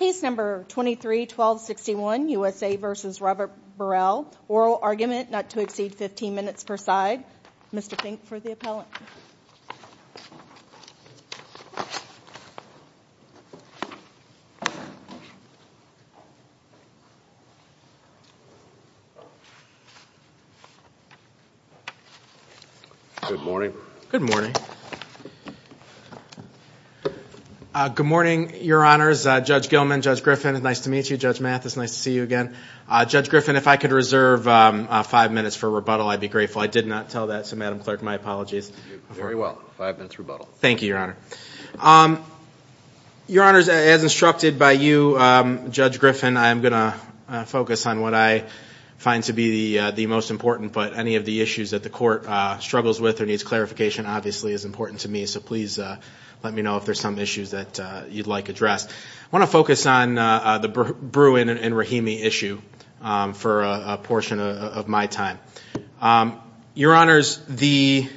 oral argument not to exceed 15 minutes per side. Mr. Fink for the appellant. Good morning. Good morning. Good morning, Your Honors. Judge Gilman, Judge Griffin, it's nice to meet you. Judge Mathis, nice to see you again. Judge Griffin, if I could reserve five minutes for rebuttal, I'd be grateful. I did not tell that, so Madam Clerk, my apologies. Very well. Five minutes rebuttal. Thank you, Your Honor. Your Honors, as instructed by you, Judge Griffin, I'm going to focus on what I find to be the most important, but struggles with or needs clarification obviously is important to me, so please let me know if there's some issues that you'd like addressed. I want to focus on the Bruin and Rahimi issue for a portion of my time. Your Honors, there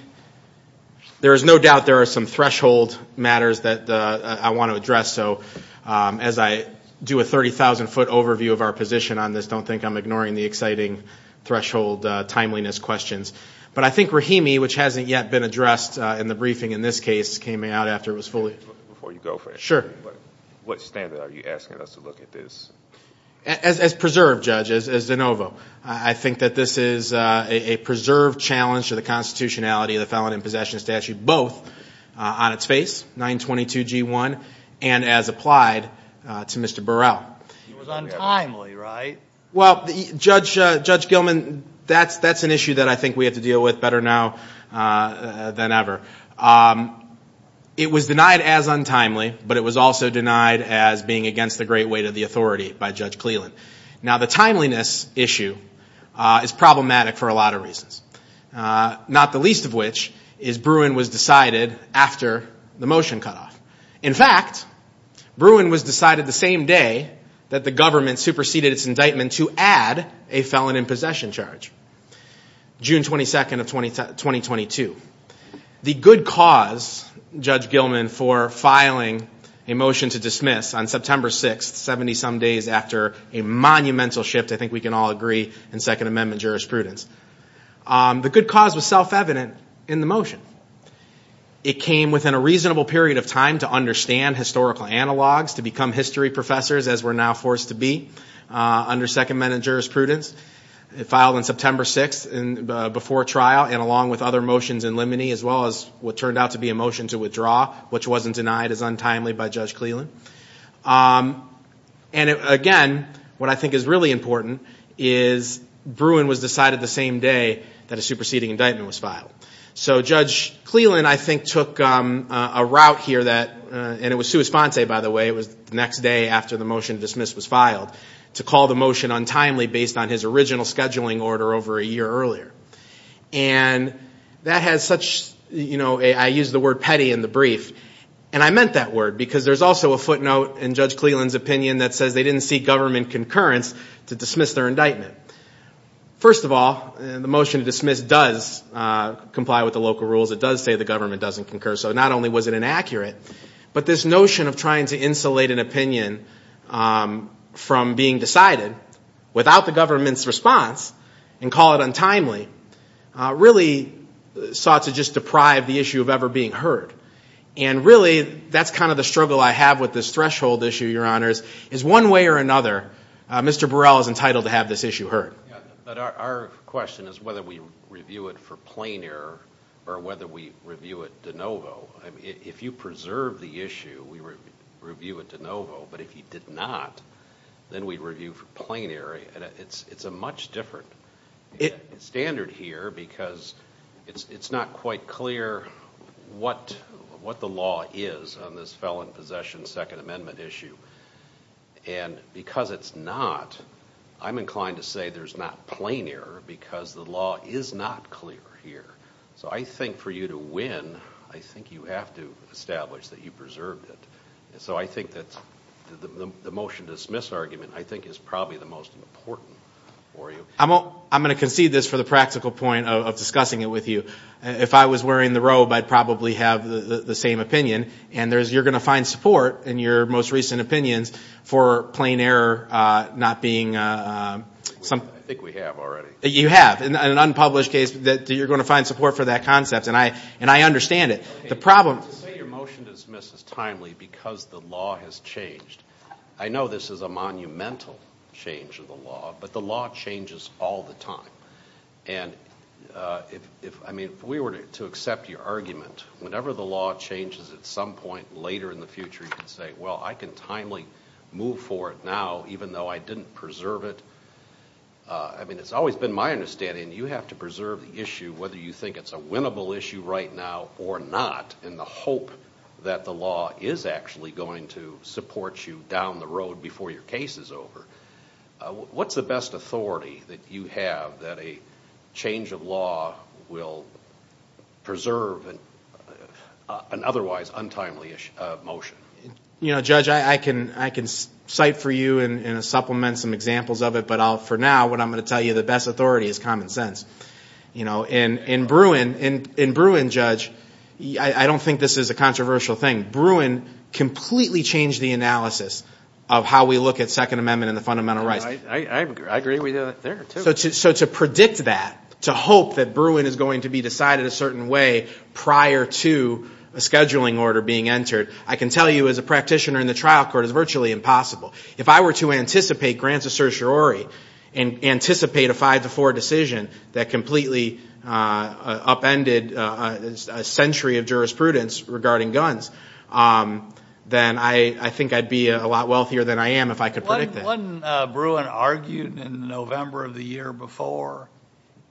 is no doubt there are some threshold matters that I want to address, so as I do a 30,000-foot overview of our position on this, don't think I'm ignoring the exciting threshold timeliness questions, but I think Rahimi, which hasn't yet been addressed in the briefing in this case, came out after it was fully... Before you go for it... Sure. What standard are you asking us to look at this? As preserved, Judge, as de novo. I think that this is a preserved challenge to the constitutionality of the Felony and Possession Statute, both on its face, 922 G1, and as applied to Mr. Burrell. It was untimely, right? Judge Gilman, that's an issue that I think we have to deal with better now than ever. It was denied as untimely, but it was also denied as being against the great weight of the authority by Judge Cleland. Now, the timeliness issue is problematic for a lot of reasons, not the least of which is Bruin was decided after the motion cutoff. In fact, Bruin was decided the same day that the government superseded its indictment to add a Felony and Possession charge, June 22nd of 2022. The good cause, Judge Gilman, for filing a motion to dismiss on September 6th, 70 some days after a monumental shift, I think we can all agree, in Second Amendment jurisprudence. The good cause was self-evident in the motion. It came within a reasonable period of time to understand historical analogs, to become history professors as we're now forced to be under Second Amendment jurisprudence. It filed on September 6th before trial and along with other motions in limine as well as what turned out to be a motion to withdraw, which wasn't denied as untimely by Judge Cleland. And again, what I think is really important is Bruin was decided the same day that a superseding and it was sua sponte by the way, it was the next day after the motion to dismiss was filed, to call the motion untimely based on his original scheduling order over a year earlier. And that has such, you know, I use the word petty in the brief, and I meant that word because there's also a footnote in Judge Cleland's opinion that says they didn't see government concurrence to dismiss their indictment. First of all, the motion to dismiss does comply with the local rules. It does say the government doesn't concur. So not only was it inaccurate, but this notion of trying to insulate an opinion from being decided without the government's response and call it untimely really sought to just deprive the issue of ever being heard. And really, that's kind of the struggle I have with this threshold issue, Your Honors, is one way or another, Mr. Burrell is entitled to have this issue heard. But our question is whether we review it for plain error or whether we review it de novo. If you preserve the issue, we review it de novo. But if you did not, then we review for plain error. It's a much different standard here because it's not quite clear what the law is on this felon possession Second Amendment issue. And because it's not, I'm inclined to say there's not plain error because the law is not clear here. So I think for you to win, I think you have to establish that you preserved it. So I think that the motion to dismiss argument, I think, is probably the most important for you. I'm going to concede this for the practical point of discussing it with you. If I was wearing the robe, I'd probably have the same opinion. And you're going to find support in your most recent opinions for plain error not being something. I think we have already. You have. In an unpublished case, you're going to find support for that concept. And I understand it. The problem... Your motion to dismiss is timely because the law has changed. I know this is a monumental change of the law, but the law changes all the time. And if we were to accept your argument, whenever the law changes at some point later in the future, you can say, well, I can timely move forward now even though I didn't preserve it. I mean, it's always been my understanding you have to preserve the issue whether you think it's a winnable issue right now or not in the hope that the law is actually going to support you down the road before your case is over. What's the best authority that you have that a change of law will preserve an otherwise untimely motion? You know, Judge, I can cite for you and supplement some examples of it. But for now, what I'm going to tell you, the best authority is common sense. You know, in Bruin, Judge, I don't think this is a controversial thing. Bruin completely changed the analysis of how we look at Second Amendment and the fundamental rights. I agree with you there, too. So to predict that, to hope that Bruin is going to be decided a certain way prior to a scheduling order being entered, I can tell you as a practitioner in the trial court, it's virtually impossible. If I were to anticipate grants of certiorari and anticipate a five-to-four decision that completely upended a century of jurisprudence regarding guns, then I think I'd be a lot wealthier than I am if I could predict that. Wasn't Bruin argued in November of the year before?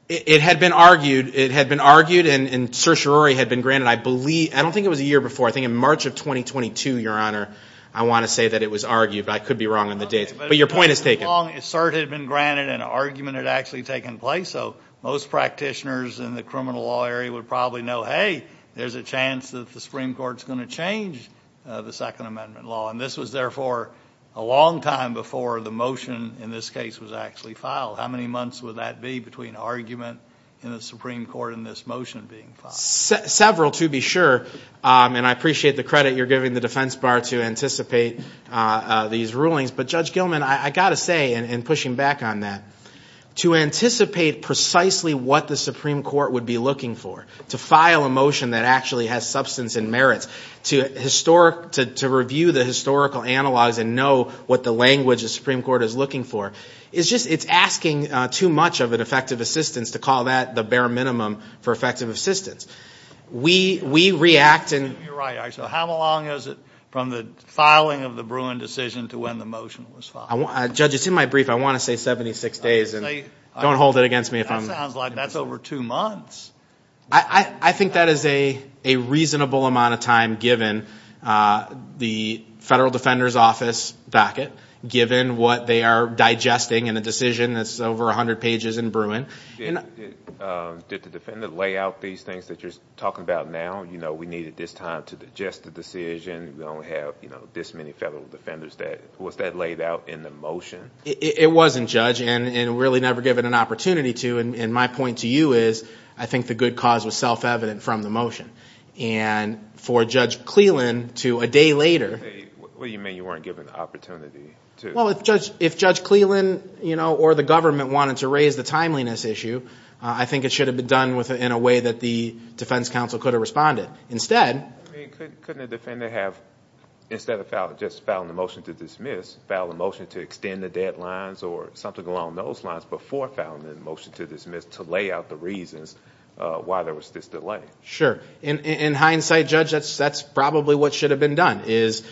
It had been argued. It had been argued and certiorari had been granted. I don't think it was a year before. I think in March of 2022, Your Honor, I want to say that it was argued. But I could be wrong on the dates. But your point is taken. But as long as cert had been granted and argument had actually taken place, so most practitioners in the criminal law area would probably know, hey, there's a chance that the Supreme Court's going to change the Second Amendment law. And this was, therefore, a long time before the motion in this case was actually filed. How many months would that be between argument in the Supreme Court and this motion being filed? Several to be sure. And I appreciate the credit you're giving the defense bar to anticipate these rulings. But Judge Gilman, I got to say, and pushing back on that, to anticipate precisely what the Supreme Court would be looking for, to file a motion that actually has substance and merits, to review the historical analogs and know what the language the Supreme Court is looking for, it's asking too much of an effective assistance to call that the bare minimum for effective assistance. We react and You're right. So how long is it from the filing of the Bruin decision to when the motion was Judge, it's in my brief. I want to say 76 days. And don't hold it against me if I'm That sounds like that's over two months. I think that is a reasonable amount of time given the Federal Defender's Office back it, given what they are digesting in a decision that's over 100 pages in Bruin. Did the defendant lay out these things that you're talking about now? You know, we needed this time to digest the decision. We don't have this many Federal Defenders. Was that laid out in the motion? It wasn't, Judge. And really never given an opportunity to. And my point to you is, I think the good cause was self-evident from the motion. And for Judge Cleland to a day later What do you mean you weren't given an opportunity to? If Judge Cleland or the government wanted to raise the timeliness issue, I think it should have been done in a way that the defense counsel could have responded. Instead Couldn't a defendant have, instead of just filing a motion to dismiss, file a motion to extend the deadlines or something along those lines before filing a motion to dismiss to lay out the reasons why there was this delay? Sure. In hindsight, Judge, that's probably what should have been done, is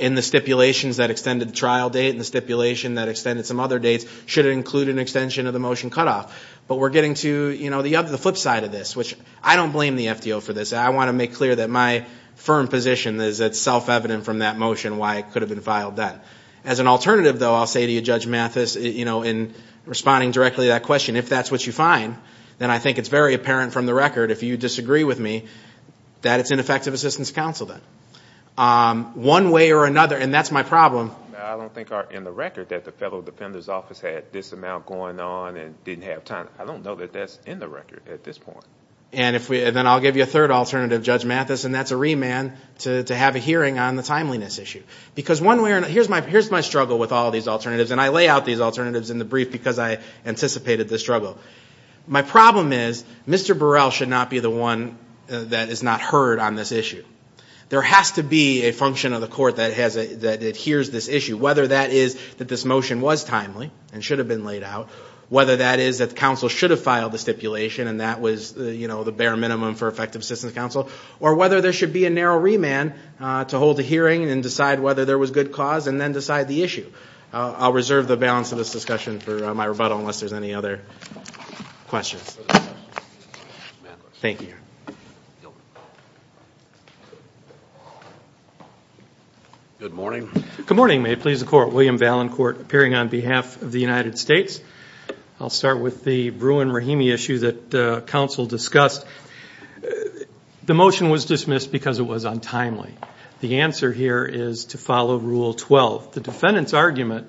in the stipulations that extended the trial date and the stipulation that extended some other dates, should it include an extension of the motion cutoff? But we're getting to the flip side of this, which I don't blame the FDO for this. I want to make clear that my firm position is that it's self-evident from that motion why it could have been filed then. As an alternative, though, I'll say to you, Judge Mathis, in responding directly to that question, if that's what you find, then I think it's very apparent from the record, if you disagree with me, that it's ineffective assistance to counsel then. One way or another, and that's my problem. I don't think in the record that the fellow defender's office had this amount going on and didn't have time. I don't know that that's in the record at this point. And then I'll give you a third alternative, Judge Mathis, and that's a remand to have a hearing on the timeliness issue. Because one way or another, here's my struggle with all these alternatives, and I lay out these alternatives in the brief because I anticipated this struggle. My problem is Mr. Burrell should not be the one that is not heard on this issue. There has to be a function of the court that adheres to this issue, whether that is that this motion was timely and should have been laid out, whether that is that counsel should have filed the stipulation and that was, you know, the bare minimum for effective assistance to counsel, or whether there should be a narrow remand to hold a hearing and decide whether there was good cause and then decide the issue. I'll reserve the balance of this discussion for my rebuttal unless there's any other questions. Thank you. William Valancourt, Appearing on behalf of the United States. I'll start with the Bruin-Rahimi issue that counsel discussed. The motion was dismissed because it was untimely. The answer here is to follow Rule 12. The defendant's argument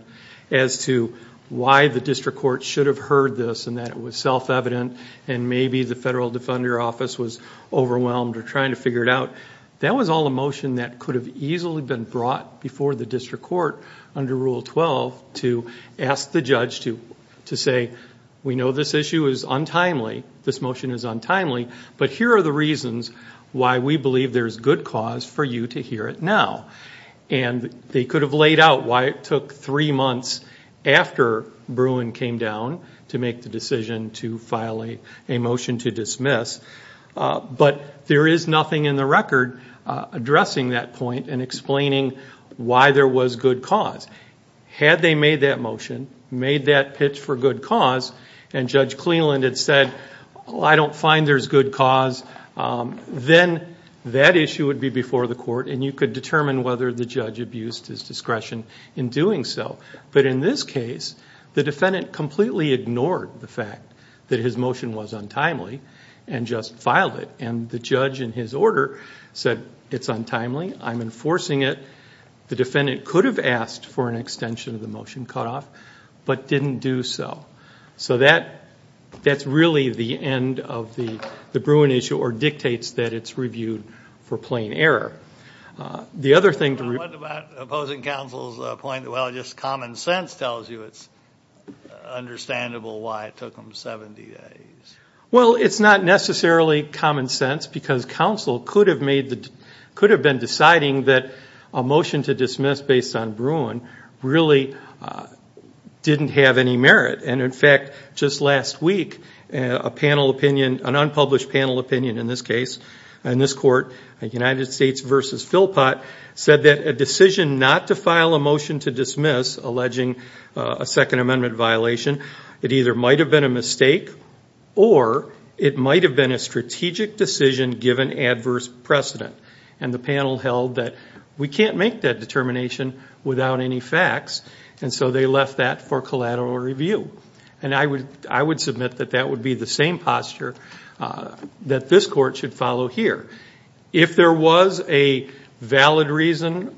as to why the district court should have heard this and that it was self-evident and maybe the federal defender office was overwhelmed or trying to figure it out, that was all a motion that could have easily been brought before the district court under Rule 12 to ask the judge to say, we know this issue is untimely, this motion is untimely, but here are the reasons why we believe there is good cause for you to hear it now. And they could have laid out why it took three months after Bruin came down to make the decision to file a motion to dismiss, but there is nothing in the record addressing that point and explaining why there was good cause. Had they made that motion, made that pitch for good cause, and Judge Cleland had said, I don't find there's good cause, then that issue would be before the court and you could determine whether the judge abused his discretion in doing so. But in this case, the defendant completely ignored the fact that his motion was untimely and just filed it. And the judge in his order said, it's untimely, I'm enforcing it. The defendant could have asked for an extension of the Bruin issue or dictates that it's reviewed for plain error. The other thing to remember... What about opposing counsel's point that, well, just common sense tells you it's understandable why it took them 70 days? Well, it's not necessarily common sense because counsel could have been deciding that a motion to dismiss based on Bruin really didn't have any merit. And in fact, just last week, a unpublished panel opinion in this case, in this court, United States v. Philpott, said that a decision not to file a motion to dismiss alleging a Second Amendment violation, it either might have been a mistake or it might have been a strategic decision given adverse precedent. And the panel held that we can't make that determination without any facts. And so they left that for collateral review. And I would submit that that would be the same posture that this court should follow here. If there was a valid reason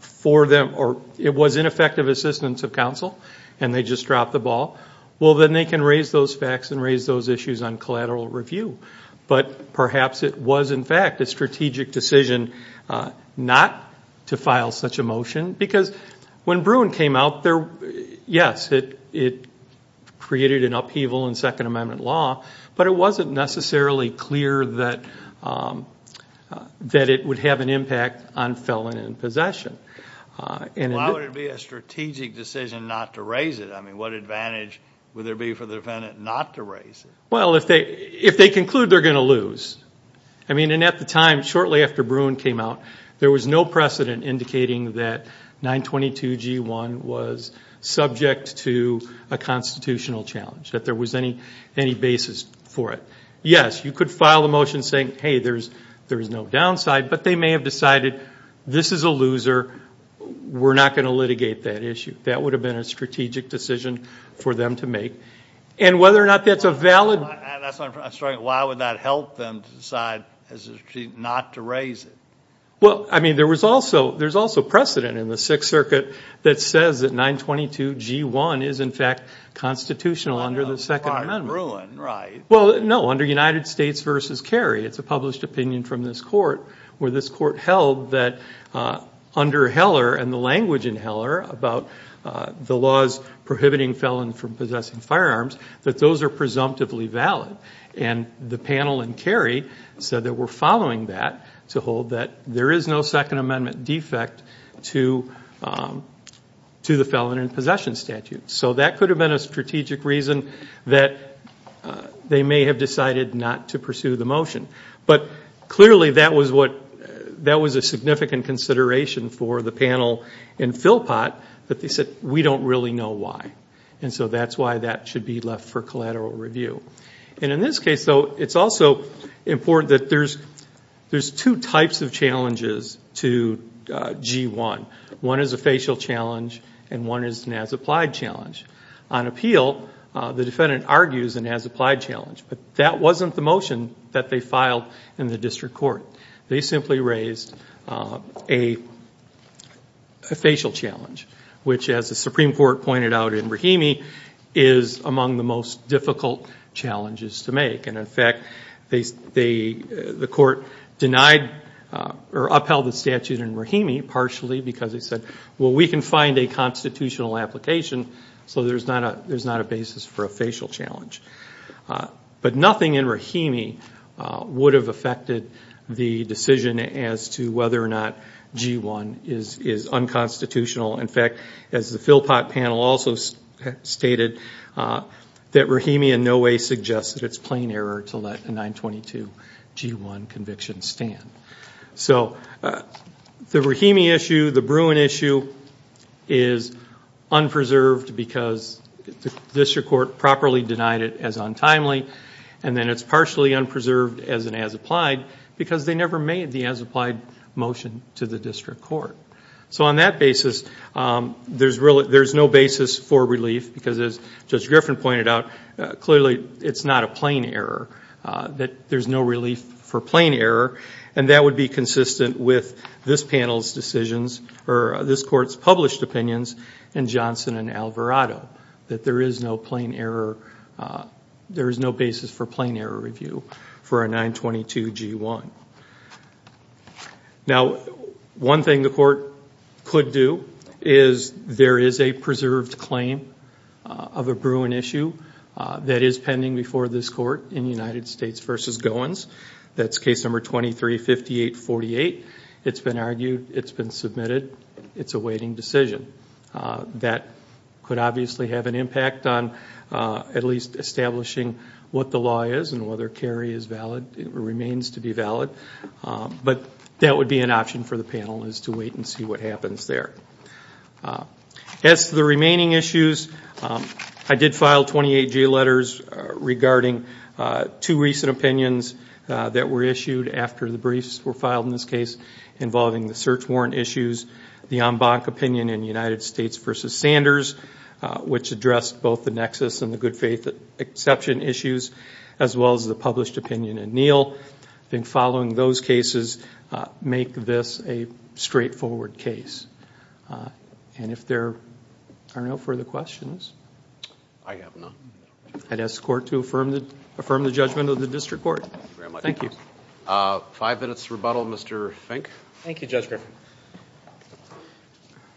for them or it was ineffective assistance of counsel and they just dropped the ball, well, then they can raise those facts and raise those issues on collateral review. But perhaps it was, in fact, a strategic decision not to file such a motion because when Bruin came out there, yes, it created an upheaval in Second Amendment law, but it wasn't necessarily clear that it would have an impact on felon and possession. Why would it be a strategic decision not to raise it? I mean, what advantage would there be for the defendant not to raise it? Well, if they conclude they're going to lose. I mean, and at the time, shortly after Bruin came out, there was no precedent indicating that 922G1 was subject to a constitutional challenge, that there was any basis for it. Yes, you could file a motion saying, hey, there's no downside, but they may have decided this is a loser, we're not going to litigate that issue. That would have been a strategic decision for them to make. And whether or not that's a valid... I'm sorry, why would that help them decide not to raise it? Well, I mean, there was also precedent in the Sixth Circuit that says that 922G1 is, in fact, constitutional under the Second Amendment. Under Bruin, right. Well, no, under United States v. Carey. It's a published opinion from this court where this court held that under Heller and the language in Heller about the laws prohibiting felons from possessing firearms, that those are presumptively valid. And the panel in Carey said that we're following that to hold that there is no Second Amendment defect to the felon in possession statute. So that could have been a strategic reason that they may have decided not to pursue the motion. But clearly, that was a significant consideration for the panel in Philpott that they said, we don't really know why. And so that's why that should be left for collateral review. And in this case, though, it's also important that there's two types of challenges to G1. One is a facial challenge and one is an as-applied challenge. On appeal, the defendant argues an as-applied challenge, but that wasn't the motion that they filed in the district court. They simply raised a facial challenge, which as the Supreme Court pointed out in Rahimi, is among the most difficult challenges to make. And in fact, the court denied or upheld the statute in Rahimi partially because they said, well, we can find a constitutional application, so there's not a basis for a facial challenge. But nothing in Rahimi would have affected the decision as to whether or not G1 is unconstitutional. In fact, as the Philpott panel also stated, that Rahimi in no way suggests that it's plain error to let a 922 G1 conviction stand. So the Rahimi issue, the Bruin issue, is unpreserved because the district court properly denied it as untimely, and then it's partially unpreserved as an as-applied because they never made the as-applied motion to the district court. So on that basis, there's no basis for relief because as Judge Griffin pointed out, clearly it's not a plain error, that there's no relief for plain error, and that would be consistent with this panel's decisions, or this court's published opinions, and Johnson and Alvarado, that there is no plain error, there is no basis for plain error review for a 922 G1. Now one thing the court could do is there is a preserved claim of a Bruin issue that is pending before this court in United States v. Goins. That's case number 235848. It's been argued. It's been submitted. It's a waiting decision. That could obviously have an impact on at least establishing what the law is and whether Kerry is valid, remains to be valid, but that would be an option for the panel is to wait and see what happens there. As to the remaining issues, I did file 28 G letters regarding two recent opinions that were issued after the briefs were filed in this case involving the search warrant issues, the en banc opinion in United States v. Sanders, which addressed both the nexus and the good faith exception issues, as well as the published opinion in Neal. I think following those cases make this a straightforward case. If there are no further questions, I'd ask the court to affirm the judgment of the district court. Thank you. Five minutes rebuttal, Mr. Fink. Thank you, Judge Griffin.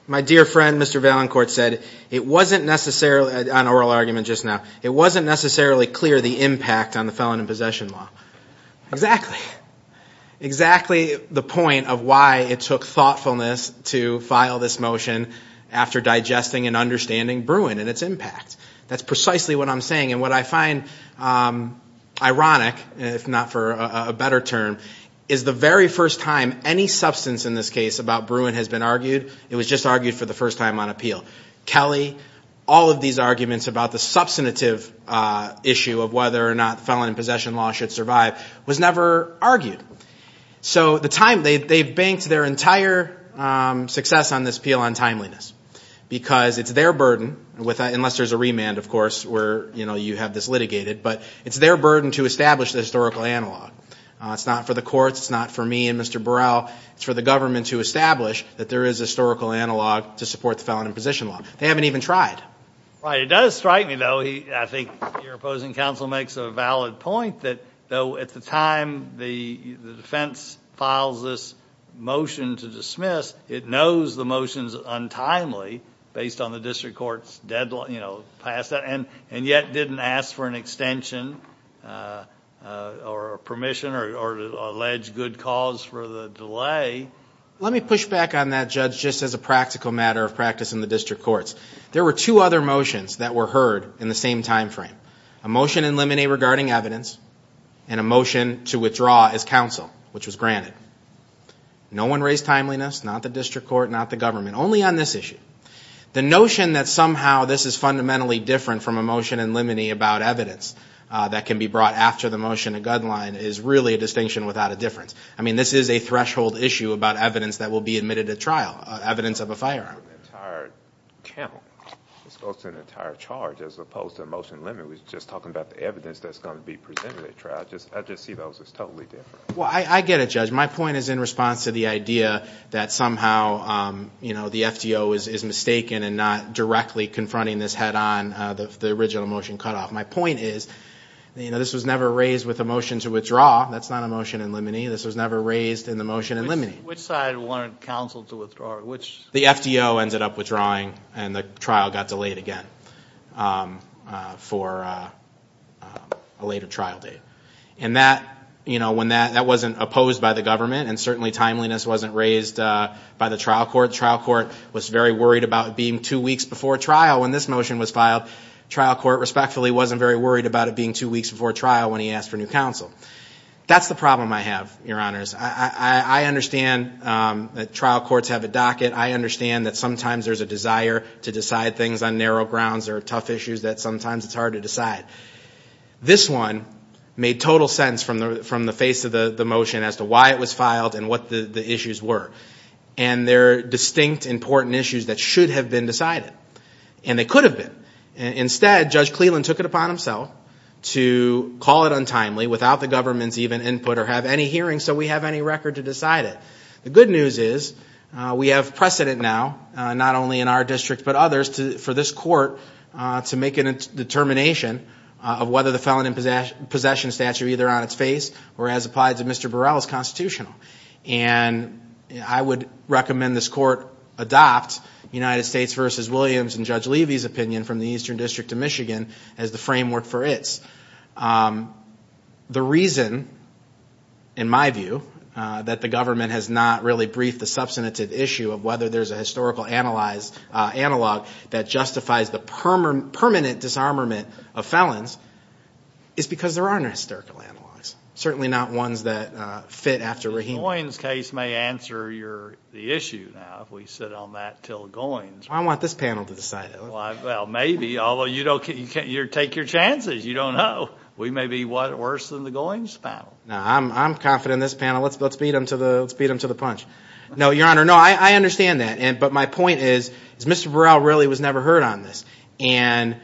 My dear friend, Mr. Valencourt, said it wasn't necessarily an oral argument just now. It wasn't necessarily clear the impact on the felon in possession law. Exactly. Exactly the point of why it took thoughtfulness to file this motion after digesting and understanding Bruin and its impact. That's precisely what I'm saying, and what I find ironic, if not for a better term, is the very first time any substance in this case about Bruin has been argued, it was just argued for the first time on appeal. Kelly, all of these arguments about the substantive issue of whether or not felon in possession law should survive was never argued. So they've banked their entire success on this appeal on timeliness, because it's their burden, unless there's a remand, of course, where you have this litigated, but it's their burden to establish the historical analog. It's not for the courts, it's not for me and Mr. Burrell, it's for the government to establish that there is a historical analog to support the felon in possession law. They haven't even tried. Right. It does strike me, though, I think your opposing counsel makes a valid point, that though at the time the defense files this motion to dismiss, it knows the motion's untimely, based on the district court's deadline, and yet didn't ask for an extension or permission or allege good cause for the delay. Let me push back on that, Judge, just as a practical matter of practice in the district courts. There were two other motions that were heard in the same time frame, a motion in limine regarding evidence and a motion to withdraw as counsel, which was granted. No one raised timeliness, not the district court, not the government, only on this issue. The notion that somehow this is fundamentally different from a motion in limine about evidence that can be brought after the motion to guideline is really a distinction without a difference. I mean, this is a threshold issue about evidence that will be admitted at trial, evidence of a firearm. An entire count, as opposed to an entire charge, as opposed to a motion in limine, we're just talking about the evidence that's going to be presented at trial. I just see those as totally different. Well, I get it, Judge. My point is in response to the idea that somehow, you know, the FDO is mistaken and not directly confronting this head on, the original motion cutoff. My point is, you know, this was never raised with a motion to withdraw. That's not a motion in limine. This was never raised in the motion in limine. Which side wanted counsel to withdraw? The FDO ended up withdrawing and the trial got delayed again for a later trial date. And that, you know, when that, that wasn't opposed by the government and certainly timeliness wasn't raised by the trial court. Trial court was very worried about it being two weeks before trial when this motion was Trial court respectfully wasn't very worried about it being two weeks before trial when he asked for new counsel. That's the problem I have, Your Honors. I understand that trial courts have a docket. I understand that sometimes there's a desire to decide things on narrow grounds or tough issues that sometimes it's hard to decide. This one made total sense from the, from the face of the motion as to why it was filed and what the issues were. And they're distinct important issues that should have been decided and they could have been. Instead, Judge Cleland took it upon himself to call it untimely without the government's even input or have any hearing so we have any record to decide it. The good news is we have precedent now, not only in our district, but others to, for this court to make a determination of whether the felon in possession statute, either on its face or as applied to Mr. Burrell, is constitutional. And I would recommend this court adopt United States v. Williams and Judge Levy's opinion from the Eastern District of Michigan as the framework for its. The reason, in my view, that the government has not really briefed the substantive issue of whether there's a historical analyzed, analog that justifies the permanent disarmament of felons is because there aren't historical analogs, certainly not ones that fit after Rahim. The Goins case may answer your, the issue now if we sit on that till Goins. I want this panel to decide it. Well, maybe, although you don't, you take your chances. You don't know. We may be worse than the Goins panel. No, I'm confident in this panel. Let's beat them to the, let's beat them to the punch. No, Your Honor, no, I understand that. But my point is, is Mr. Burrell really was never heard on this. And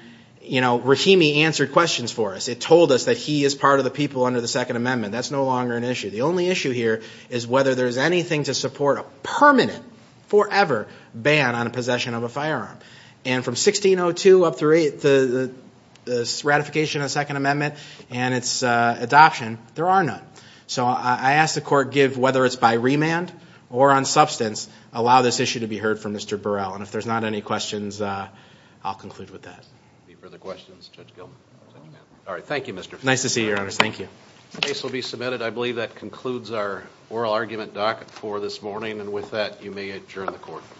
you know, Rahimi answered questions for us. It told us that he is part of the people under the Second Amendment. That's no longer an issue. The only issue here is whether there's anything to support a permanent, forever ban on possession of a firearm. And from 1602 up through the ratification of the Second Amendment and its adoption, there are none. So I ask the court give, whether it's by remand or on substance, allow this issue to be heard from Mr. Burrell. And if there's not any questions, I'll conclude with that. Any further questions? Judge Gilman. All right. Thank you, Mr. Feinstein. Nice to see you, Your Honors. Thank you. The case will be submitted. I believe that concludes our oral argument doc for this morning. And with that, you may adjourn the court.